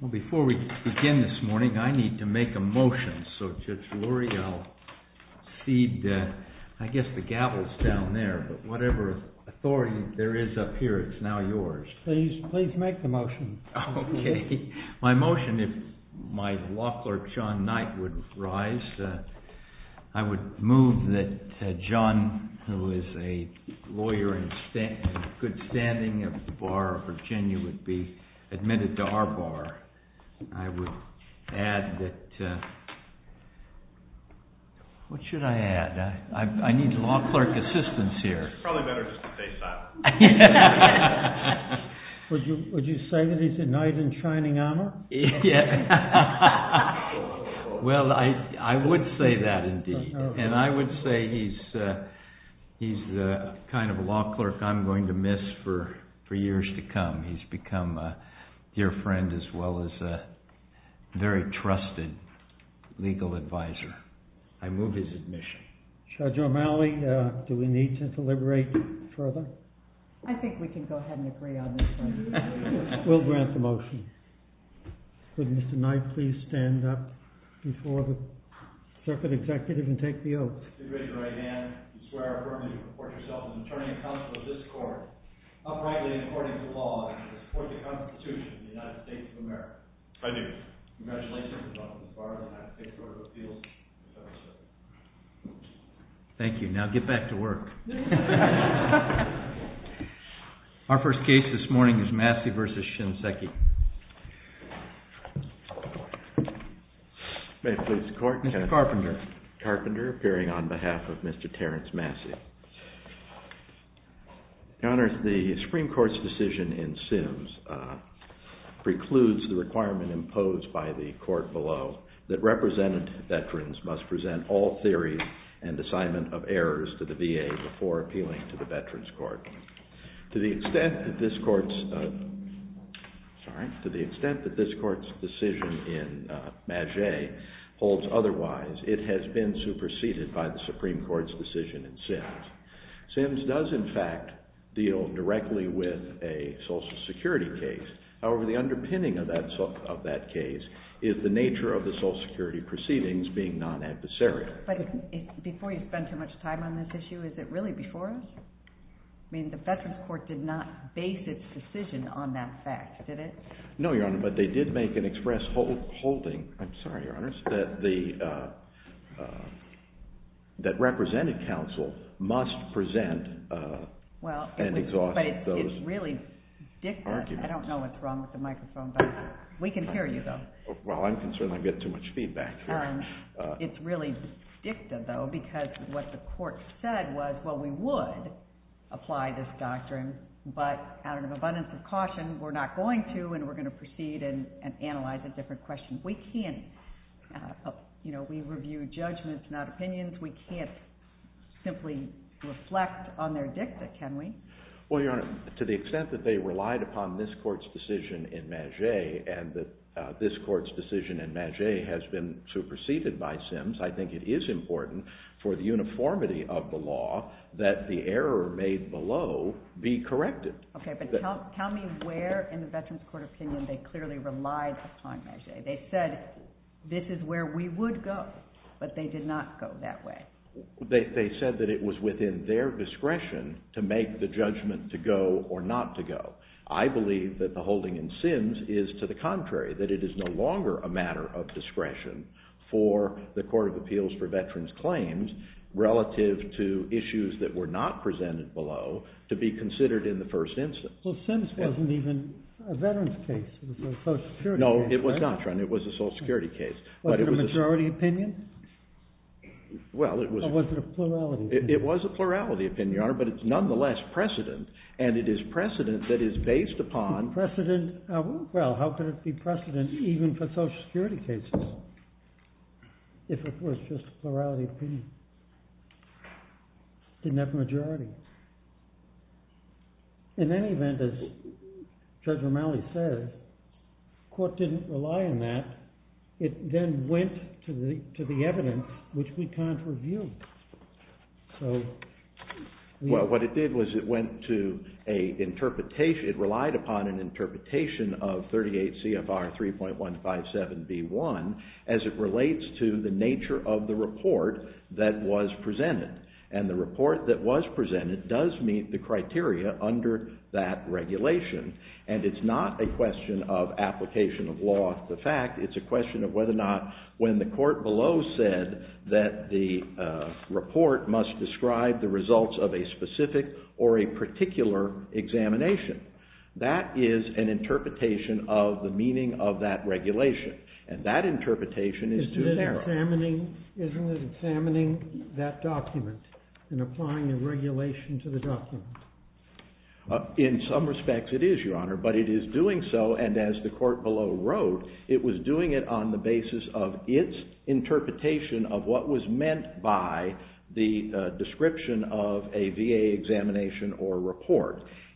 Well, before we begin this morning, I need to make a motion. So, Judge Lurie, I'll cede, I guess the gavel's down there, but whatever authority there is up here, it's now yours. Please, please make the motion. Okay. My motion, if my law clerk, John Knight, would rise, I would move that John, who is a lawyer in good health, be admitted to Arbor. I would add that, what should I add? I need law clerk assistance here. It's probably better just to say Simon. Would you say that he's a knight in shining armor? Well, I would say that indeed. And I would say he's the kind of law clerk I'm going to miss for years to come. He's become a dear friend as well as a very trusted legal advisor. I move his admission. Judge O'Malley, do we need to deliberate further? I think we can go ahead and agree on this one. We'll grant the motion. Would Mr. Knight please stand up before the circuit executive and take the oath? I do. Congratulations on becoming a part of the United States Court of Appeals. Thank you. Now get back to work. Our first case this morning is Massey v. Shinseki. May it please the court. Mr. Carpenter. Mr. Carpenter, appearing on behalf of Mr. Terrence Massey. Your Honor, the Supreme Court's decision in Sims precludes the requirement imposed by the court below that representative veterans must present all theories and assignment of errors to the VA before appealing to the to the extent that this court's decision in Massey holds otherwise, it has been superseded by the Supreme Court's decision in Sims. Sims does in fact deal directly with a social security case. However, the underpinning of that case is the nature of the social security proceedings being non-adversarial. But before you spend too much time on this issue, is it really before us? I mean, the Supreme Court's decision on that fact, did it? No, Your Honor, but they did make an express holding, I'm sorry, Your Honor, that the, that representative counsel must present and exhaust those arguments. Well, but it's really dicta. I don't know what's wrong with the microphone, but we can hear you, though. Well, I'm concerned I get too much feedback here. It's really dicta, though, because what the court said was, well, we would apply this abundance of caution. We're not going to, and we're going to proceed and analyze a different question. We can't, you know, we review judgments, not opinions. We can't simply reflect on their dicta, can we? Well, Your Honor, to the extent that they relied upon this court's decision in Massey and that this court's decision in Massey has been superseded by Sims, I think it is important for the uniformity of the law that the error made below be corrected. Okay, but tell me where in the Veterans Court opinion they clearly relied upon Massey. They said, this is where we would go, but they did not go that way. They said that it was within their discretion to make the judgment to go or not to go. I believe that the holding in Sims is to the contrary, that it is no longer a matter of discretion for the Court of Appeals for Veterans Claims relative to issues that were not presented below to be considered in the first instance. Well, Sims wasn't even a veterans case, it was a social security case, right? No, it was not, Your Honor, it was a social security case. Was it a majority opinion? Well, it was... Or was it a plurality opinion? It was a plurality opinion, Your Honor, but it's nonetheless precedent, and it is precedent that is based upon... Precedent, well, how could it be precedent even for social security cases if it was just a plurality opinion? It didn't have a majority. In any event, as Judge Romali said, the Court didn't rely on that. It then went to the evidence, which we can't review. So... Well, what it did was it went to an interpretation, it relied upon an interpretation of 38 CFR 3.157B1 as it relates to the nature of the report that was presented. And the report that was presented does meet the criteria under that regulation. And it's not a question of application of law of the fact, it's a question of whether or not when the court below said that the report must describe the results of a specific or a particular examination. That is an interpretation of the meaning of that regulation, and that interpretation is too narrow. Isn't it examining that document and applying the regulation to the document? In some respects, it is, Your Honor, but it is doing so, and as the court below wrote, it was doing it on the basis of its interpretation of what was meant by the description of a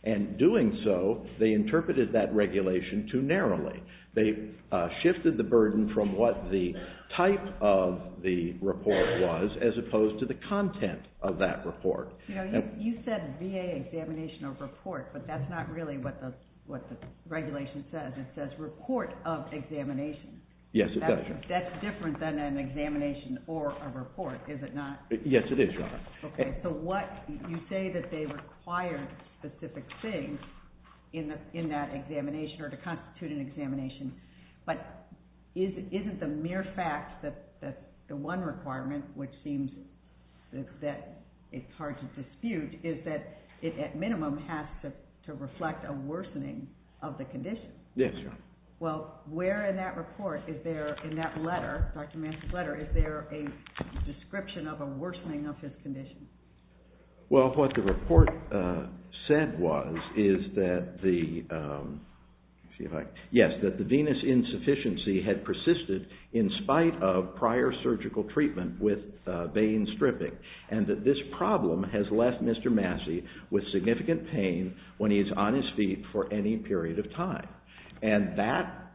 And so they interpreted that regulation too narrowly. They shifted the burden from what the type of the report was as opposed to the content of that report. You know, you said VA examination of report, but that's not really what the regulation says. It says report of examination. Yes, it does, Your Honor. That's different than an examination or a report, is it not? Yes, it is, Your Honor. Okay. So what you say that they required specific things in that examination or to constitute an examination, but isn't the mere fact that the one requirement, which seems that it's hard to dispute, is that it at minimum has to reflect a worsening of the condition? Yes, Your Honor. Well, where in that report is there, in that letter, Dr. Manson's letter, is there a description of a worsening of his condition? Well, what the report said was is that the, let's see if I, yes, that the venous insufficiency had persisted in spite of prior surgical treatment with vein stripping and that this problem has left Mr. Massey with significant pain when he is on his feet for any period of time. And that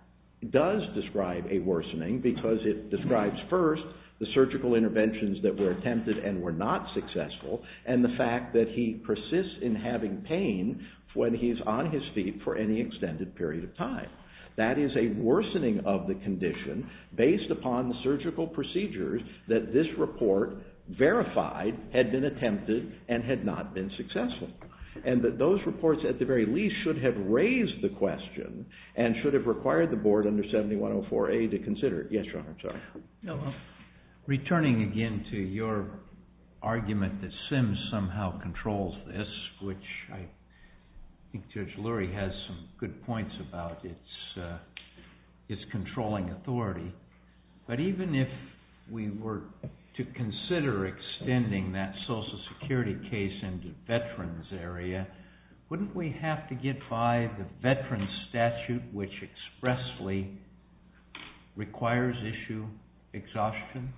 does describe a worsening because it describes first the surgical interventions that were attempted and were not successful and the fact that he persists in having pain when he is on his feet for any extended period of time. That is a worsening of the condition based upon the surgical procedures that this report verified had been attempted and had not been successful. And that those reports, at the very least, should have raised the question and should have required the Board under 7104A to consider it. Yes, Your Honor, I'm sorry. Returning again to your argument that SIMS somehow controls this, which I think Judge Lurie has some good points about its controlling authority, but even if we were to consider extending that social security case into veterans' area, wouldn't we have to get by the veterans' statute, which expressly requires issue exhaustion?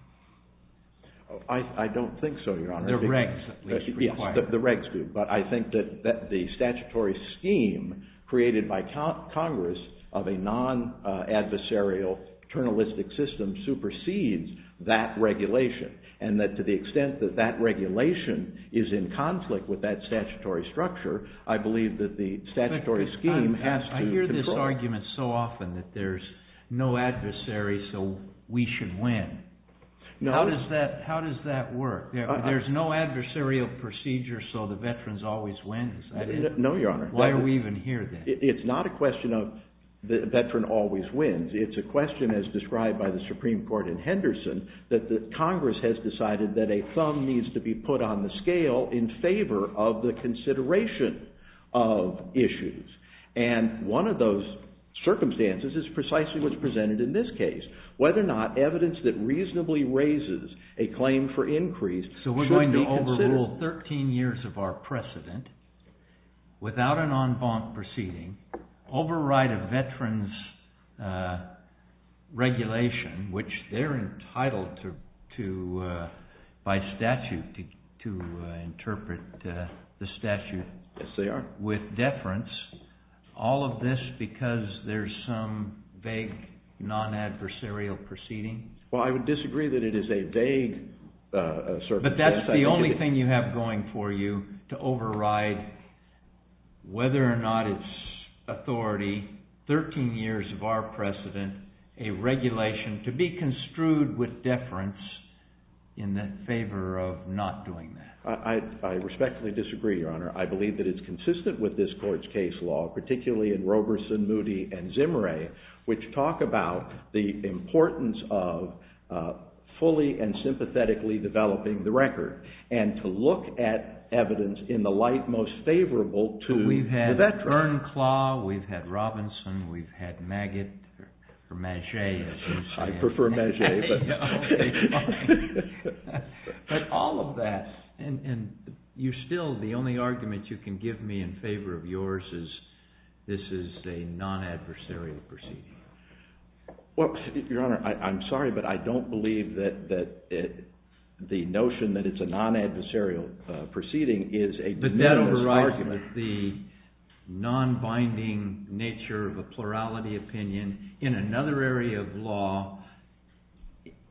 I don't think so, Your Honor. The regs at least require it. Yes, the regs do, but I think that the statutory scheme created by Congress of a non-adversarial journalistic system supersedes that regulation. And that to the extent that that regulation is in conflict with that statutory structure, I believe that the statutory scheme has to control it. I hear this argument so often that there's no adversary so we should win. How does that work? There's no adversarial procedure so the veterans always wins. No, Your Honor. Why do we even hear that? It's not a question of the veteran always wins. It's a question, as described by the Supreme Court in Henderson, that Congress has decided that a thumb needs to be put on the scale in favor of the consideration of issues. And one of those circumstances is precisely what's presented in this case. Whether or not evidence that reasonably raises a claim for increase should be considered. So we're going to overrule 13 years of our precedent without an en banc proceeding, override a veteran's regulation, which they're entitled to, by statute, to interpret the statute... Yes, they are. ...with deference, all of this because there's some vague non-adversarial proceeding? Well, I would disagree that it is a vague... But that's the only thing you have going for you, to override whether or not it's authority, 13 years of our precedent, a regulation, to be construed with deference in favor of not doing that. I respectfully disagree, Your Honor. I believe that it's consistent with this Court's case law, particularly in Roberson, Moody, and Zimmeray, which talk about the importance of fully and sympathetically developing the record and to look at evidence in the light most favorable to the veteran. We've had Earnclaw, we've had Roberson, we've had Maggett, or Maget, as you say. I prefer Maget, but... But all of that... And you still, the only argument you can give me in favor of yours is this is a non-adversarial proceeding. Well, Your Honor, I'm sorry, but I don't believe that the notion that it's a non-adversarial proceeding is a... But that overrides the non-binding nature of a plurality opinion in another area of law,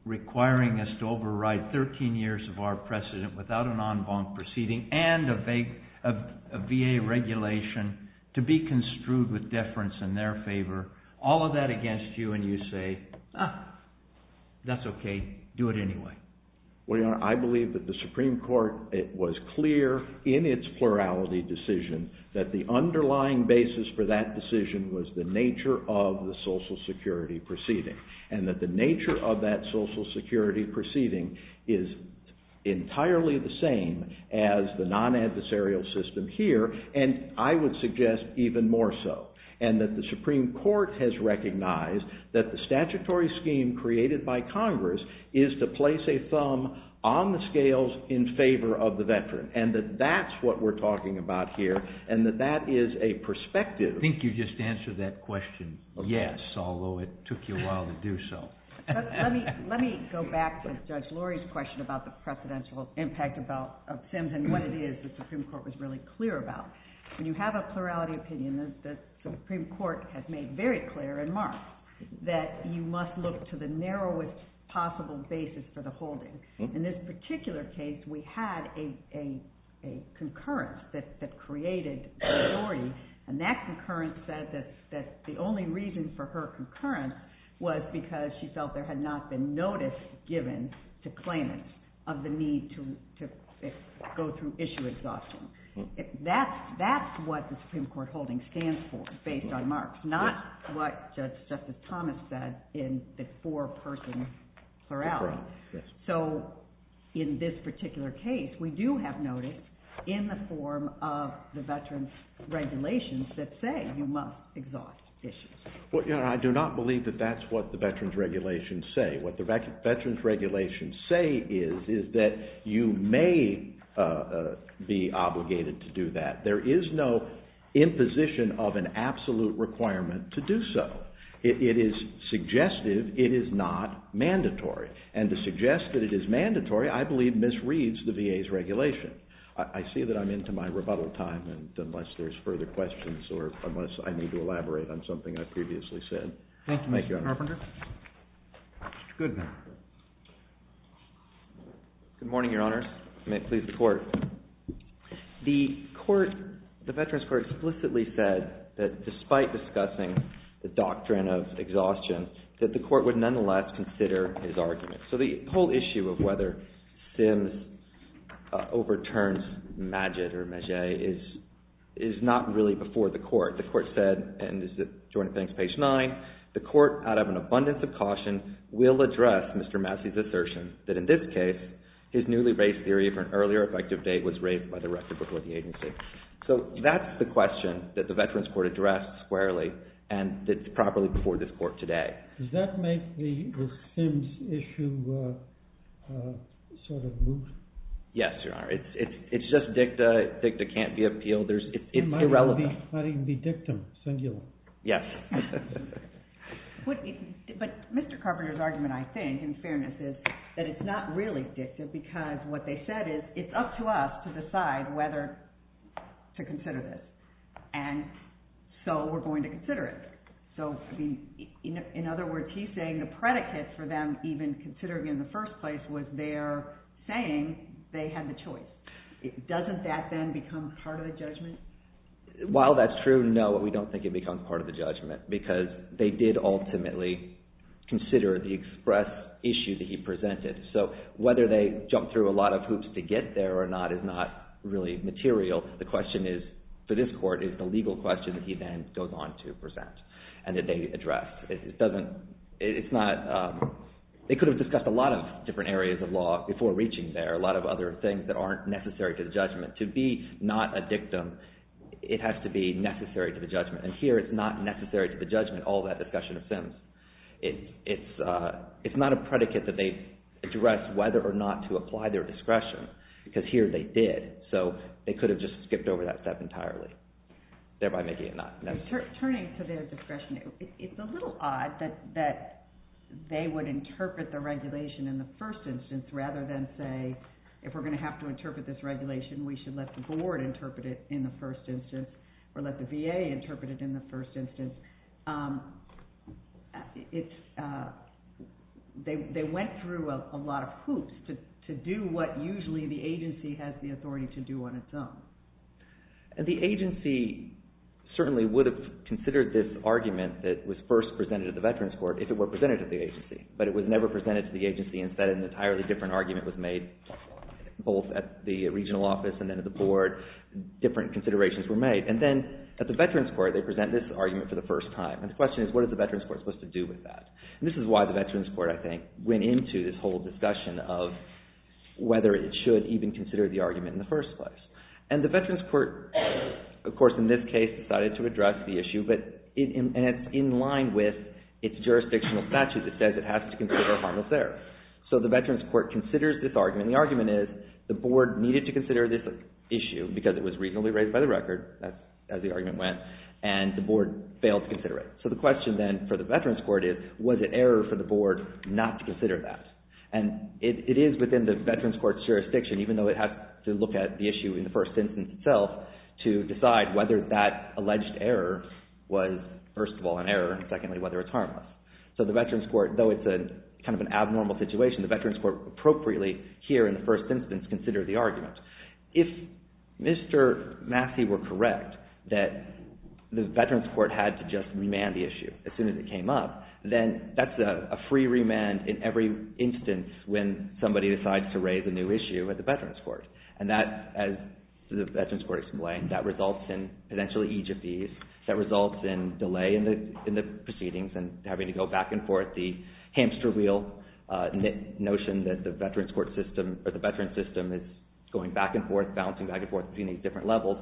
requiring us to override 13 years of our precedent without an en banc proceeding and a VA regulation to be construed with deference in their favor. All of that against you and you say, ah, that's okay, do it anyway. Well, Your Honor, I believe that the Supreme Court, it was clear in its plurality decision that the underlying basis for that decision was the nature of the Social Security proceeding and that the nature of that Social Security proceeding is entirely the same as the non-adversarial system here, and I would suggest even more so, and that the Supreme Court has recognized that the statutory scheme created by Congress is to place a thumb on the scales in favor of the veteran, and that that's what we're talking about here, and that that is a perspective... Let me go back to Judge Lurie's question about the precedential impact of SIMS and what it is the Supreme Court was really clear about. When you have a plurality opinion, the Supreme Court has made very clear and marked that you must look to the narrowest possible basis for the holding. In this particular case, we had a concurrence that created Lurie, and that concurrence said that the only reason for her concurrence was because she felt there had not been notice given to claimants of the need to go through issue exhaustion. That's what the Supreme Court holding stands for based on marks, not what Justice Thomas said in the four-person plurality. In this particular case, we do have notice in the form of the veterans' regulations that say you must exhaust issues. I do not believe that that's what the veterans' regulations say. What the veterans' regulations say is that you may be obligated to do that. There is no imposition of an absolute requirement to do so. It is suggestive. It is not mandatory. And to suggest that it is mandatory, I believe misreads the VA's regulation. I see that I'm into my rebuttal time, unless there's further questions or unless I need to elaborate on something I previously said. Thank you, Mr. Carpenter. Mr. Goodman. Good morning, Your Honors. May it please the Court. The Veterans Court explicitly said that despite discussing the doctrine of exhaustion, that the Court would nonetheless consider his argument. So the whole issue of whether Sims overturns Magid or Maget is not really before the Court. The Court said, and this is Jordan Penning's page 9, the Court, out of an abundance of caution, will address Mr. Massey's assertion that in this case his newly raised theory of an earlier effective date was raised by the record before the agency. So that's the question that the Veterans Court addressed squarely and that's properly before this Court today. Does that make the Sims issue sort of loose? Yes, Your Honor. It's just dicta. Dicta can't be appealed. It might even be dictum, singular. Yes. But Mr. Carpenter's argument, I think, in fairness, is that it's not really dicta because what they said is it's up to us to decide whether to consider this. And so we're going to consider it. In other words, he's saying the predicate for them even considering it in the first place was their saying they had the choice. Doesn't that then become part of the judgment? While that's true, no, we don't think it becomes part of the judgment because they did ultimately consider the express issue that he presented. So whether they jumped through a lot of hoops to get there or not is not really material. The question for this Court is the legal question that he then goes on to present and that they address. They could have discussed a lot of different areas of law before reaching there, a lot of other things that aren't necessary to the judgment. To be not a dictum, it has to be necessary to the judgment. And here it's not necessary to the judgment, all that discussion of Sims. It's not a predicate that they address whether or not to apply their discretion because here they did. So they could have just skipped over that step entirely, thereby making it not necessary. Turning to their discretion, it's a little odd that they would interpret the regulation in the first instance rather than say if we're going to have to interpret this regulation, we should let the board interpret it in the first instance or let the VA interpret it in the first instance. They went through a lot of hoops to do what usually the agency has the authority to do on its own. The agency certainly would have considered this argument that was first presented at the Veterans Court if it were presented to the agency. But it was never presented to the agency and said an entirely different argument was made both at the regional office and then at the board. Different considerations were made. And then at the Veterans Court, they present this argument for the first time. And the question is what is the Veterans Court supposed to do with that? And this is why the Veterans Court, I think, went into this whole discussion of whether it should even consider the argument in the first place. And the Veterans Court, of course, in this case decided to address the issue and it's in line with its jurisdictional statute that says it has to consider harmless error. So the Veterans Court considers this argument. The argument is the board needed to consider this issue because it was reasonably raised by the record, as the argument went, and the board failed to consider it. So the question then for the Veterans Court is was it error for the board not to consider that? And it is within the Veterans Court's jurisdiction, even though it has to look at the issue in the first instance itself to decide whether that alleged error was, first of all, an error, and secondly, whether it's harmless. So the Veterans Court, though it's kind of an abnormal situation, the Veterans Court appropriately here in the first instance considered the argument. If Mr. Massey were correct that the Veterans Court had to just remand the issue as soon as it came up, then that's a free remand in every instance when somebody decides to raise a new issue at the Veterans Court. And that, as the Veterans Court explained, that results in potential egyptese, that results in delay in the proceedings and having to go back and forth, the hamster wheel notion that the Veterans System is going back and forth, bouncing back and forth between these different levels,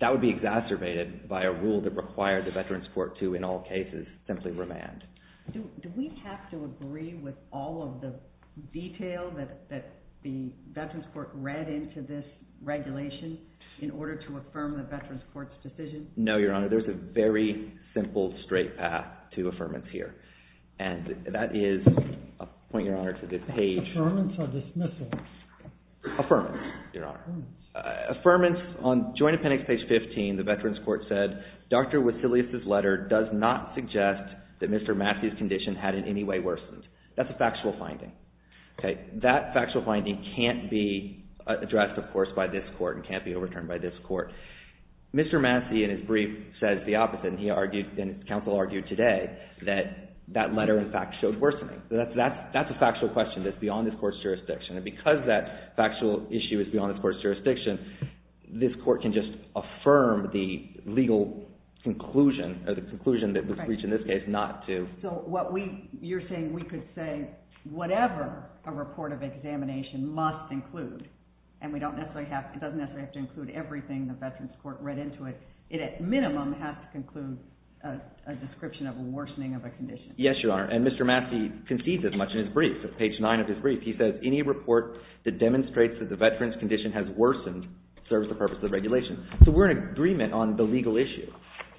that would be exacerbated by a rule that required the Veterans Court to, in all cases, simply remand. Do we have to agree with all of the detail that the Veterans Court read into this regulation in order to affirm the Veterans Court's decision? No, Your Honor. There's a very simple, straight path to affirmance here. And that is a point, Your Honor, to this page. Affirmance or dismissal? Affirmance, Your Honor. Affirmance on Joint Appendix, page 15, the Veterans Court said, Dr. Wasilius's letter does not suggest that Mr. Massey's condition had in any way worsened. That's a factual finding. That factual finding can't be addressed, of course, by this court and can't be overturned by this court. Mr. Massey, in his brief, says the opposite. And he argued, and counsel argued today, that that letter, in fact, showed worsening. That's a factual question that's beyond this court's jurisdiction. And because that factual issue is beyond this court's jurisdiction, this court can just affirm the legal conclusion, or the conclusion that was reached in this case, not to So, you're saying we could say whatever a report of examination must include, and it doesn't necessarily have to include everything the Veterans Court read into it, it at minimum has to include a description of a worsening of a condition. Yes, Your Honor. And Mr. Massey concedes as much in his brief. Page 9 of his brief, he says, Any report that demonstrates that the veteran's condition has worsened serves the purpose of the regulation. So, we're in agreement on the legal issue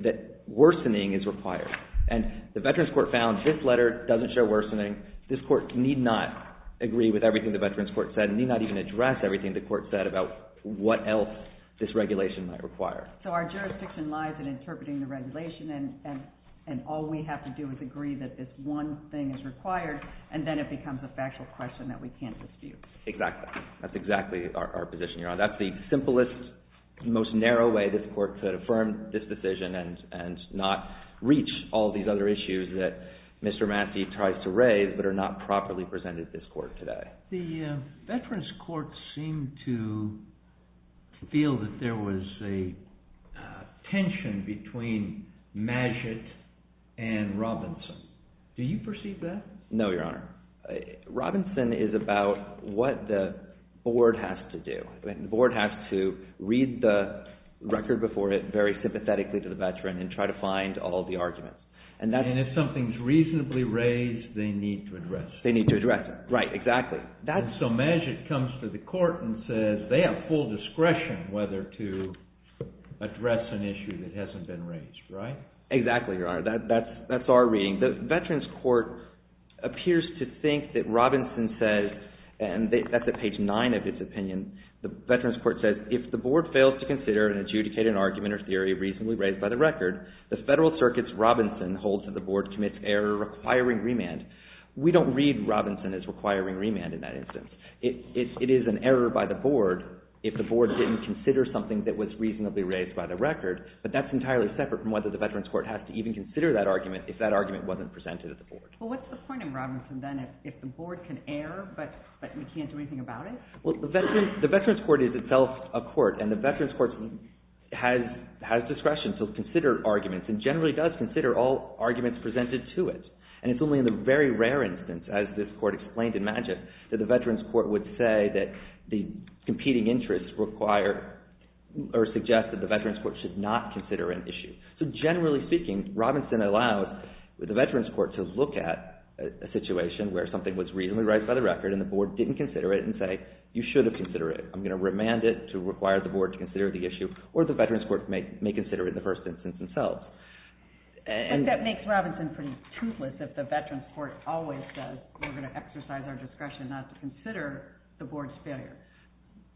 that worsening is required. And the Veterans Court found this letter doesn't show worsening. This court need not agree with everything the Veterans Court said, need not even address everything the court said about what else this regulation might require. So, our jurisdiction lies in interpreting the regulation, and all we have to do is agree that this one thing is required, and then it becomes a factual question that we can't dispute. Exactly. That's exactly our position, Your Honor. That's the simplest, most narrow way this court could affirm this decision, and not reach all these other issues that Mr. Massey tries to raise, but are not properly presented this court today. The Veterans Court seemed to feel that there was a tension between Magid and Robinson. Do you perceive that? No, Your Honor. Robinson is about what the board has to do. The board has to read the record before it very sympathetically to the veteran, and try to find all the arguments. And if something's reasonably raised, they need to address it. Right, exactly. So, Magid comes to the court and says they have full discretion whether to address an issue that hasn't been raised, right? Exactly, Your Honor. That's our reading. The Veterans Court appears to think that Robinson says, and that's at page 9 of his opinion, the Veterans Court says, if the board fails to consider and adjudicate an argument or theory reasonably raised by the record, the Federal Circuit's Robinson holds that the board commits error requiring remand. We don't read Robinson as requiring remand in that instance. It is an error by the board if the board didn't consider something that was reasonably raised by the record, but that's entirely separate from whether the Veterans Court has to even consider that argument if that argument wasn't presented at the board. Well, what's the point in Robinson then if the board can err, but we can't do anything about it? Well, the Veterans Court is itself a court, and the Veterans Court has discretion to consider arguments, and generally does consider all arguments presented to it. And it's only in the very rare instance, as this court explained in Magist, that the Veterans Court would say that the competing interests require or suggest that the Veterans Court should not consider an issue. So generally speaking, Robinson allowed the Veterans Court to look at a situation where something was reasonably raised by the record and the board didn't consider it and say, you should have considered it. I'm going to remand it to require the board to consider the issue, or the Veterans Court may consider it in the first instance themselves. But that makes Robinson pretty toothless if the Veterans Court always says we're going to exercise our discretion not to consider the board's failure.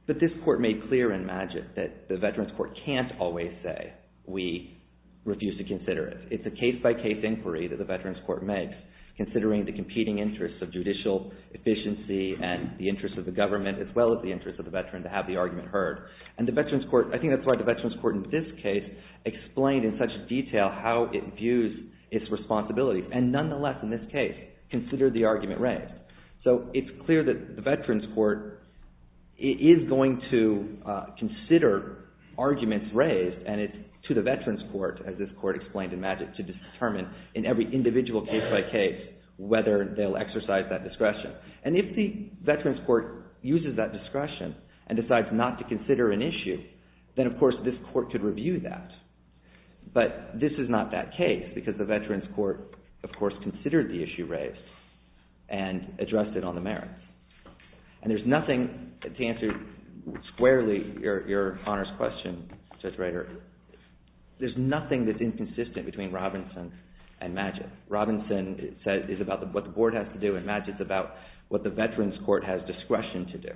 But this court made clear in Magist that the Veterans Court can't always say, we refuse to consider it. It's a case-by-case inquiry that the Veterans Court makes, considering the competing interests of judicial efficiency and the interests of the government as well as the interests of the veteran to have the argument heard. And the Veterans Court, I think that's why the Veterans Court in this case explained in such detail how it views its responsibilities. And nonetheless, in this case, considered the argument raised. So it's clear that the Veterans Court is going to consider arguments raised and it's to the Veterans Court, as this court explained in Magist, to determine in every individual case-by-case whether they'll exercise that discretion. And if the Veterans Court uses that discretion and decides not to consider an issue, then, of course, this court could review that. But this is not that case because the Veterans Court, of course, considered the issue raised and addressed it on the merits. And there's nothing to answer squarely your honors question, Judge Rader. There's nothing that's inconsistent between Robinson and Magist. Robinson, it says, is about what the board has to do, and Magist is about what the Veterans Court has discretion to do.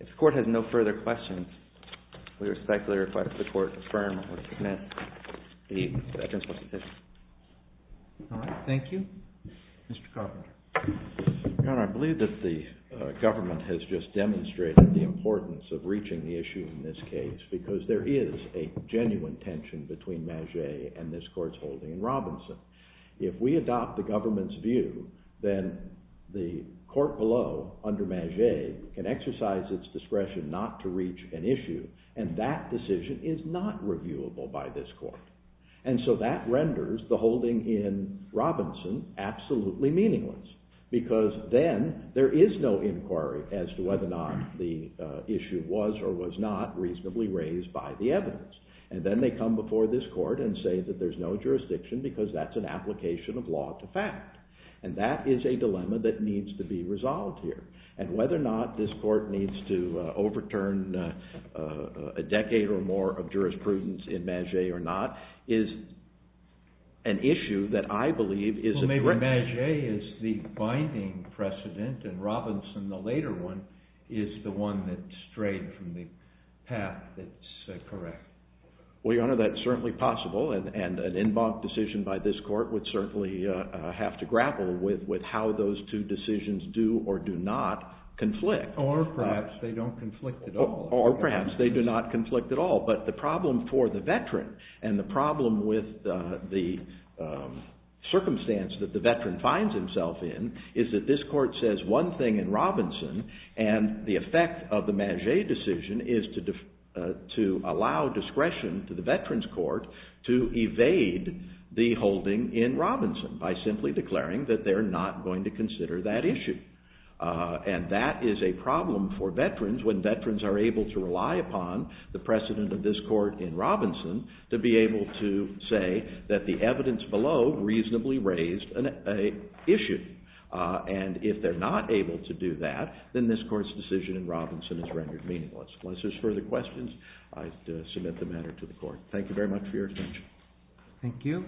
If the court has no further questions, we respectfully request the court affirm or submit the Veterans Court decision. All right. Thank you. Mr. Carpenter. Your Honor, I believe that the government has just demonstrated the importance of reaching the issue in this case because there is a genuine tension between Magist and this court's holding in Robinson. If we adopt the government's view, then the court below, under Magist, can exercise its discretion not to reach an issue, and that decision is not reviewable by this court. And so that renders the holding in Robinson absolutely meaningless because then there is no inquiry as to whether or not the issue was or was not reasonably raised by the evidence. And then they come before this court and say that there's no jurisdiction because that's an application of law to fact. And that is a dilemma that needs to be resolved here. And whether or not this court needs to overturn a decade or more of jurisprudence in Magist or not is an issue that I believe is... Well, maybe Magist is the binding precedent, and Robinson, the later one, is the one that strayed from the path that's correct. Well, Your Honor, that's certainly possible, and an en banc decision by this court would certainly have to grapple with how those two decisions do or do not conflict. Or perhaps they don't conflict at all. Or perhaps they do not conflict at all. But the problem for the veteran, and the problem with the circumstance that the veteran finds himself in, is that this court says one thing in Robinson, and the effect of the Magist decision is to allow discretion to the veterans court to evade the holding in Robinson by simply declaring that they're not going to consider that issue. And that is a problem for veterans when veterans are able to rely upon the precedent of this court in Robinson to be able to say that the evidence below reasonably raised an issue. And if they're not able to do that, then this court's decision in Robinson is rendered meaningless. Unless there's further questions, I submit the matter to the court. Thank you very much for your attention. Thank you.